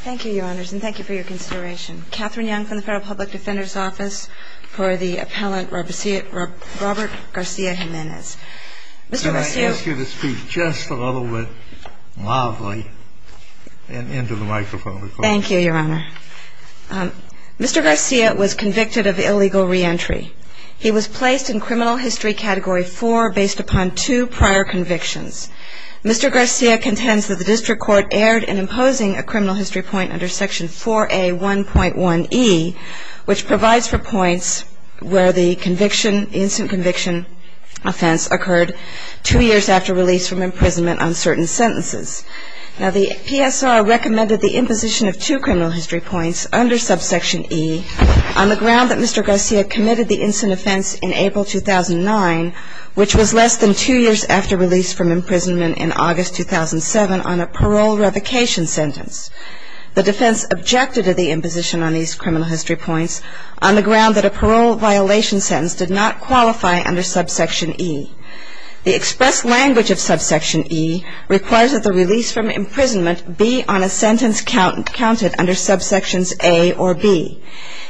Thank you, Your Honors, and thank you for your consideration. Catherine Young from the Federal Public Defender's Office for the appellant Robert Garcia-Jimenez. Can I ask you to speak just a little bit loudly and into the microphone? Thank you, Your Honor. Mr. Garcia was convicted of illegal reentry. He was placed in Criminal History Category 4 based upon two prior convictions. Mr. Garcia contends that the District Court erred in imposing a criminal history point under Section 4A1.1e, which provides for points where the conviction, the instant conviction offense occurred two years after release from imprisonment on certain sentences. Now the PSR recommended the imposition of two criminal history points under subsection e on the ground that Mr. Garcia committed the instant offense in April 2009, which was less than two years after release from imprisonment in August 2007 on a parole revocation sentence. The defense objected to the imposition on these criminal history points on the ground that a parole violation sentence did not qualify under subsection e. The expressed language of subsection e requires that the release from imprisonment be on a sentence counted under subsections a or b,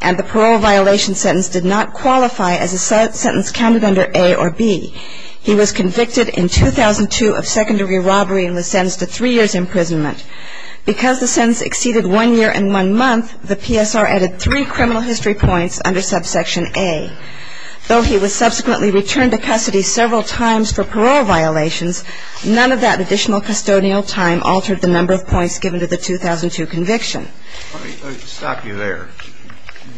and the parole violation sentence did not qualify as a sentence counted under a or b. He was convicted in 2002 of secondary robbery and was sentenced to three years' imprisonment. Because the sentence exceeded one year and one month, the PSR added three criminal history points under subsection a. Though he was subsequently returned to custody several times for parole violations, none of that additional custodial time altered the number of points given to the 2002 conviction. Let me stop you there.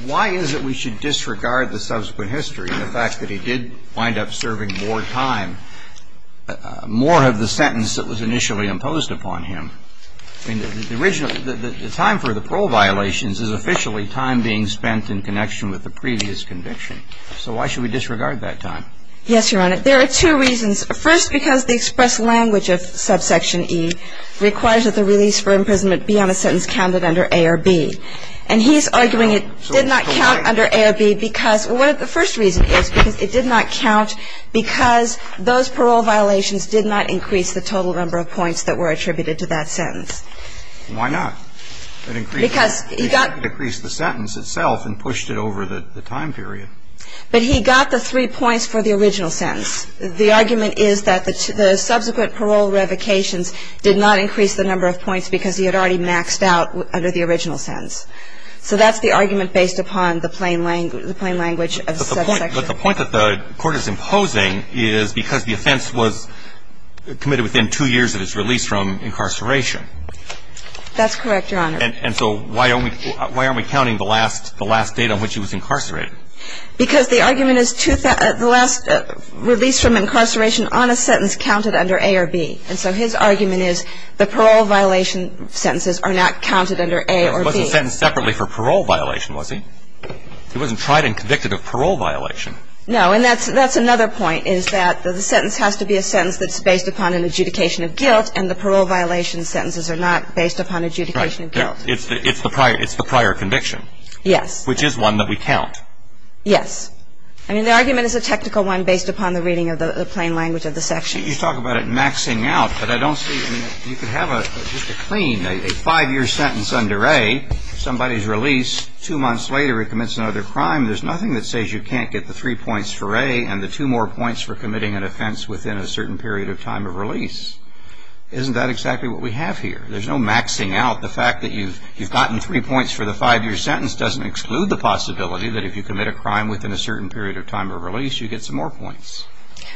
Why is it we should disregard the subsequent history and the fact that he did wind up serving more time, more of the sentence that was initially imposed upon him? I mean, the time for the parole violations is officially time being spent in connection with the previous conviction. So why should we disregard that time? Yes, Your Honor. There are two reasons. First, because the expressed language of subsection e requires that the release for imprisonment be on a sentence counted under a or b. And he's arguing it did not count under a or b because one of the first reasons is because it did not count because those parole violations did not increase the total number of points that were attributed to that sentence. Why not? Because he got to decrease the sentence itself and pushed it over the time period. But he got the three points for the original sentence. The argument is that the subsequent parole revocations did not increase the number of points because he had already maxed out under the original sentence. So that's the argument based upon the plain language of subsection e. But the point that the Court is imposing is because the offense was committed within two years of his release from incarceration. That's correct, Your Honor. And so why aren't we counting the last date on which he was incarcerated? Because the argument is the last release from incarceration on a sentence counted under a or b. And so his argument is the parole violation sentences are not counted under a or b. He wasn't sentenced separately for parole violation, was he? He wasn't tried and convicted of parole violation. No. And that's another point is that the sentence has to be a sentence that's based upon an adjudication of guilt and the parole violation sentences are not based upon adjudication of guilt. Right. It's the prior conviction. Yes. Which is one that we count. Yes. I mean, the argument is a technical one based upon the reading of the plain language of the section. You talk about it maxing out. But I don't see you could have just a clean, a five-year sentence under a, somebody's release, two months later he commits another crime. There's nothing that says you can't get the three points for a and the two more points for committing an offense within a certain period of time of release. Isn't that exactly what we have here? There's no maxing out. The fact that you've gotten three points for the five-year sentence doesn't exclude the possibility that if you commit a crime within a certain period of time of release, you get some more points.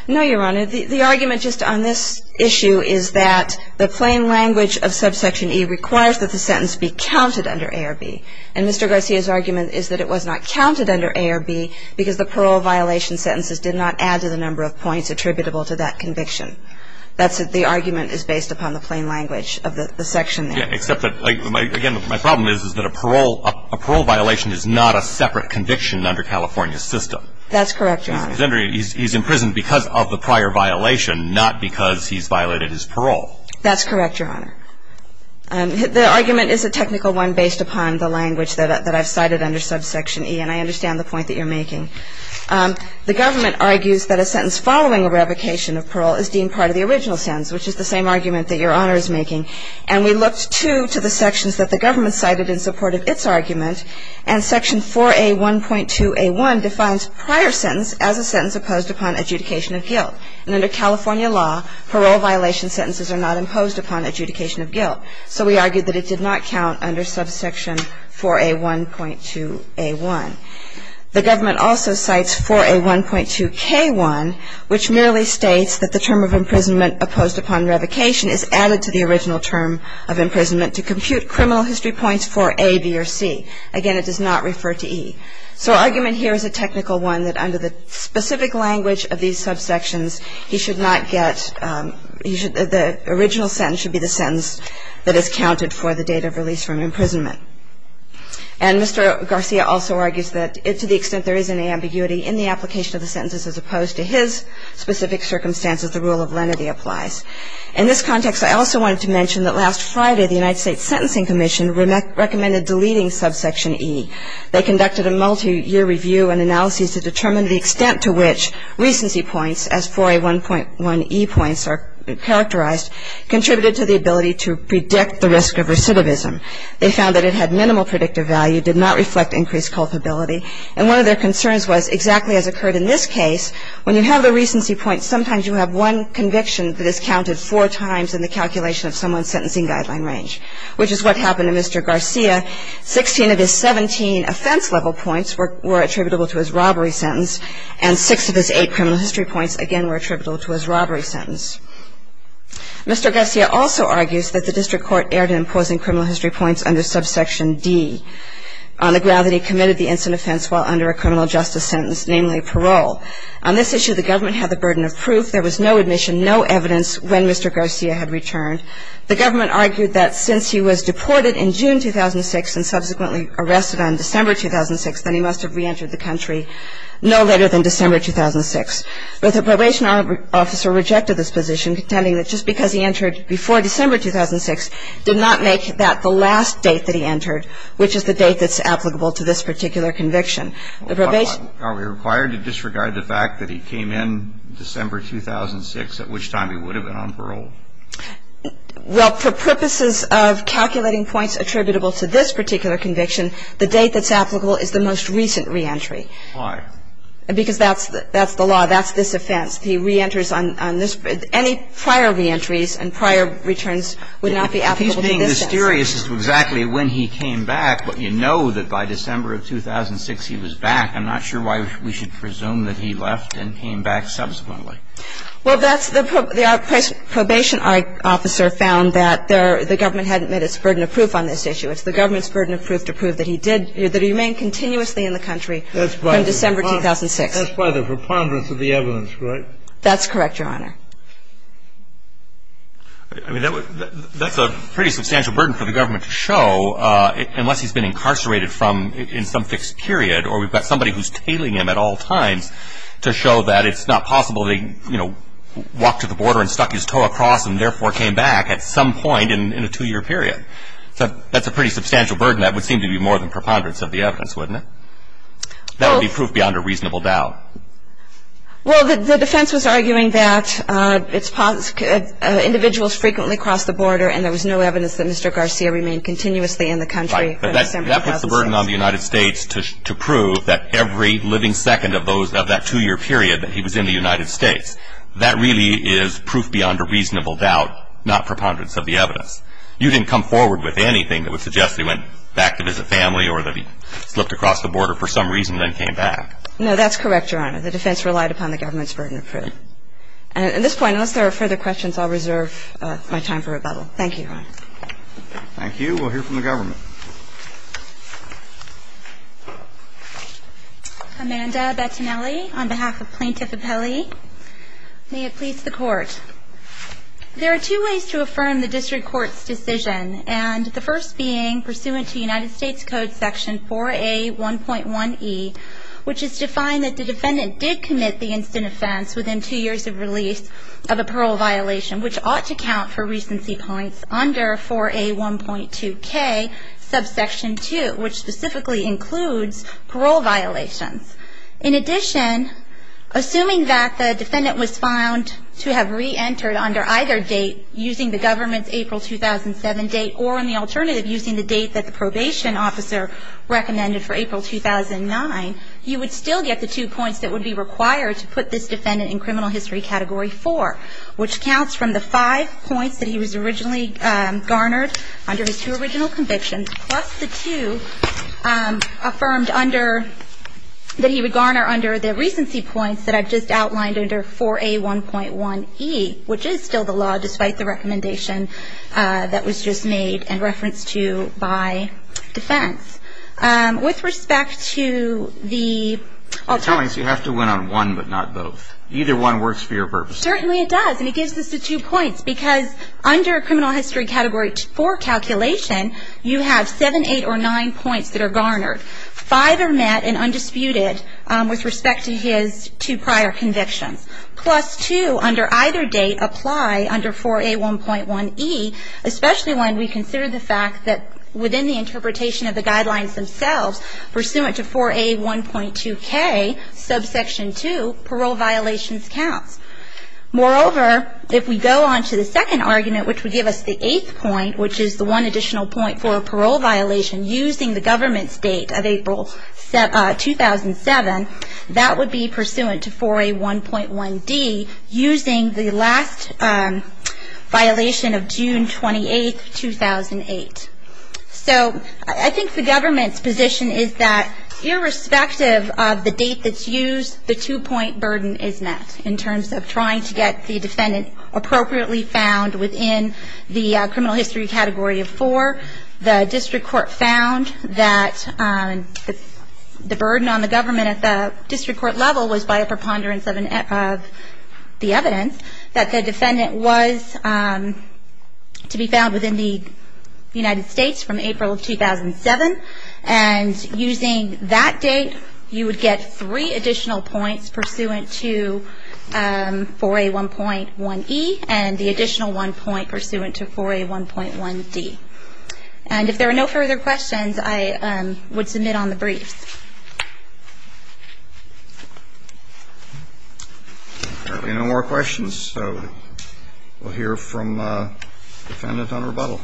No, Your Honor. The argument just on this issue is that the plain language of subsection E requires that the sentence be counted under A or B. And Mr. Garcia's argument is that it was not counted under A or B because the parole violation sentences did not add to the number of points attributable to that conviction. That's the argument is based upon the plain language of the section. Except that, again, my problem is that a parole violation is not a separate conviction under California's system. That's correct, Your Honor. He's in prison because of the prior violation, not because he's violated his parole. That's correct, Your Honor. The argument is a technical one based upon the language that I've cited under subsection E, and I understand the point that you're making. The government argues that a sentence following a revocation of parole is deemed part of the original sentence, which is the same argument that Your Honor is making. And we looked, too, to the sections that the government cited in support of its argument, and section 4A1.2A1 defines prior sentence as a sentence opposed upon adjudication of guilt. And under California law, parole violation sentences are not imposed upon adjudication of guilt. So we argued that it did not count under subsection 4A1.2A1. The government also cites 4A1.2K1, which merely states that the term of imprisonment opposed upon revocation is added to the original term of imprisonment to compute criminal history points for A, B, or C. Again, it does not refer to E. So argument here is a technical one that under the specific language of these subsections, he should not get the original sentence should be the sentence that is counted for the date of release from imprisonment. And Mr. Garcia also argues that to the extent there is an ambiguity in the application of the sentences as opposed to his specific circumstances, the rule of lenity applies. In this context, I also wanted to mention that last Friday the United States Sentencing Commission recommended deleting subsection E. They conducted a multiyear review and analyses to determine the extent to which recency points, as 4A1.1E points are characterized, contributed to the ability to predict the risk of recidivism. They found that it had minimal predictive value, did not reflect increased culpability, and one of their concerns was exactly as occurred in this case, when you have the recency points, sometimes you have one conviction that is counted four times in the calculation of someone's sentencing guideline range, which is what happened to Mr. Garcia. Sixteen of his 17 offense-level points were attributable to his robbery sentence, and six of his eight criminal history points, again, were attributable to his robbery sentence. Mr. Garcia also argues that the district court erred in imposing criminal history points under subsection D. On the ground that he committed the instant offense while under a criminal justice sentence, namely parole. On this issue, the government had the burden of proof. There was no admission, no evidence when Mr. Garcia had returned. The government argued that since he was deported in June 2006 and subsequently arrested on December 2006, then he must have reentered the country no later than December 2006. But the probation officer rejected this position, contending that just because he entered before December 2006 did not make that the last date that he entered, which is the date that's applicable to this particular conviction. The probation ---- Are we required to disregard the fact that he came in December 2006, at which time he would have been on parole? Well, for purposes of calculating points attributable to this particular conviction, the date that's applicable is the most recent reentry. Why? Because that's the law. That's this offense. He reenters on this ---- any prior reentries and prior returns would not be applicable to this offense. I'm curious as to exactly when he came back. You know that by December of 2006 he was back. I'm not sure why we should presume that he left and came back subsequently. Well, that's the ---- the probation officer found that there ---- the government hadn't met its burden of proof on this issue. It's the government's burden of proof to prove that he did ---- that he remained continuously in the country from December 2006. That's by the preponderance of the evidence, right? That's correct, Your Honor. I mean, that's a pretty substantial burden for the government to show unless he's been incarcerated from ---- in some fixed period or we've got somebody who's tailing him at all times to show that it's not possible that he, you know, walked to the border and stuck his toe across and therefore came back at some point in a two-year period. That's a pretty substantial burden. That would seem to be more than preponderance of the evidence, wouldn't it? That would be proof beyond a reasonable doubt. Well, the defense was arguing that it's ---- individuals frequently cross the border and there was no evidence that Mr. Garcia remained continuously in the country from December 2006. Right. But that puts the burden on the United States to prove that every living second of those ---- of that two-year period that he was in the United States, that really is proof beyond a reasonable doubt, not preponderance of the evidence. You didn't come forward with anything that would suggest that he went back to visit family or that he slipped across the border for some reason and then came back. No, that's correct, Your Honor. The defense relied upon the government's burden of proof. At this point, unless there are further questions, I'll reserve my time for rebuttal. Thank you, Your Honor. Thank you. We'll hear from the government. Amanda Bettinelli on behalf of Plaintiff Appellee. May it please the Court. There are two ways to affirm the district court's decision, and the first being pursuant to United States Code Section 4A1.1e, which is to find that the defendant did commit the instant offense within two years of release of a parole violation, which ought to count for recency points under 4A1.2k, subsection 2, which specifically includes parole violations. In addition, assuming that the defendant was found to have reentered under either a prior date using the government's April 2007 date or, in the alternative, using the date that the probation officer recommended for April 2009, you would still get the two points that would be required to put this defendant in criminal history category 4, which counts from the five points that he was originally garnered under his two original convictions, plus the two affirmed under the recency points that I've just outlined under 4A1.1e, which is still the law despite the recommendation that was just made and referenced to by defense. With respect to the... Tell me, so you have to win on one but not both. Either one works for your purposes. Certainly it does, and it gives us the two points, because under criminal history category 4 calculation, you have seven, eight, or nine points that are garnered. Five are met and undisputed with respect to his two prior convictions, plus two under either date apply under 4A1.1e, especially when we consider the fact that within the interpretation of the guidelines themselves, pursuant to 4A1.2k, subsection two, parole violations counts. Moreover, if we go on to the second argument, which would give us the eighth point, which is the one additional point for a parole violation using the last violation of June 28, 2008. So I think the government's position is that irrespective of the date that's used, the two-point burden is met in terms of trying to get the defendant appropriately found within the criminal history category of 4. The district court found that the burden on the government at the district court level was by a preponderance of the evidence that the defendant was to be found within the United States from April of 2007, and using that date, you would get three additional points pursuant to 4A1.1e and the additional one point pursuant to 4A1.1d. And if there are no further questions, I would submit on the briefs. If there are no more questions, we'll hear from the defendant on rebuttal.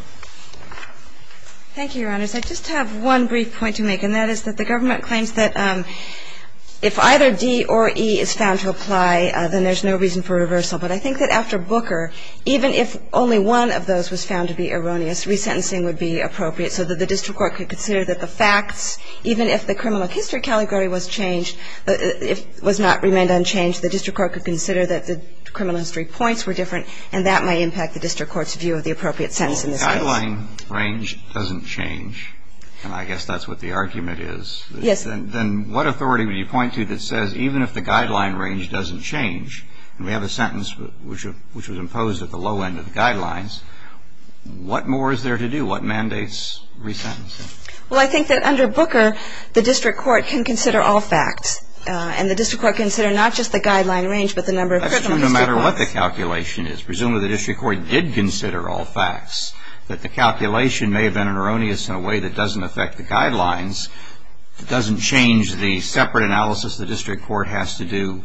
Thank you, Your Honors. I just have one brief point to make, and that is that the government claims that if either D or E is found to apply, then there's no reason for reversal. But I think that after Booker, even if only one of those was found to be erroneous, resentencing would be appropriate so that the district court could consider that the facts, even if the criminal history category was changed, was not remained unchanged, the district court could consider that the criminal history points were different, and that might impact the district court's view of the appropriate sentence in this case. Well, if the guideline range doesn't change, and I guess that's what the argument is, then what authority would you point to that says even if the guideline range doesn't change, and we have a sentence which was imposed at the low end of the guidelines, what more is there to do? What mandates resentencing? Well, I think that under Booker, the district court can consider all facts. And the district court can consider not just the guideline range, but the number of criminal history points. That's true no matter what the calculation is. Presumably the district court did consider all facts. But the calculation may have been erroneous in a way that doesn't affect the guidelines. It doesn't change the separate analysis the district court has to do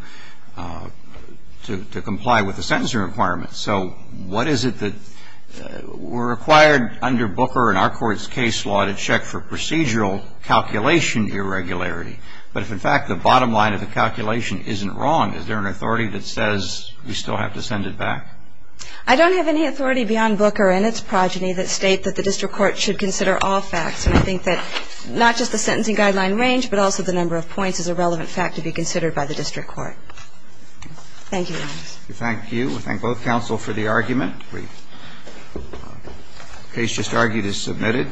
to comply with the sentencing requirements. So what is it that we're required under Booker and our court's case law to check for procedural calculation irregularity? But if, in fact, the bottom line of the calculation isn't wrong, is there an authority that says we still have to send it back? I don't have any authority beyond Booker and its progeny that state that the district court should consider all facts. And I think that not just the sentencing guideline range, but also the number of points is a relevant fact to be considered by the district court. Thank you, Your Honors. Thank you. We thank both counsel for the argument. The case just argued is submitted.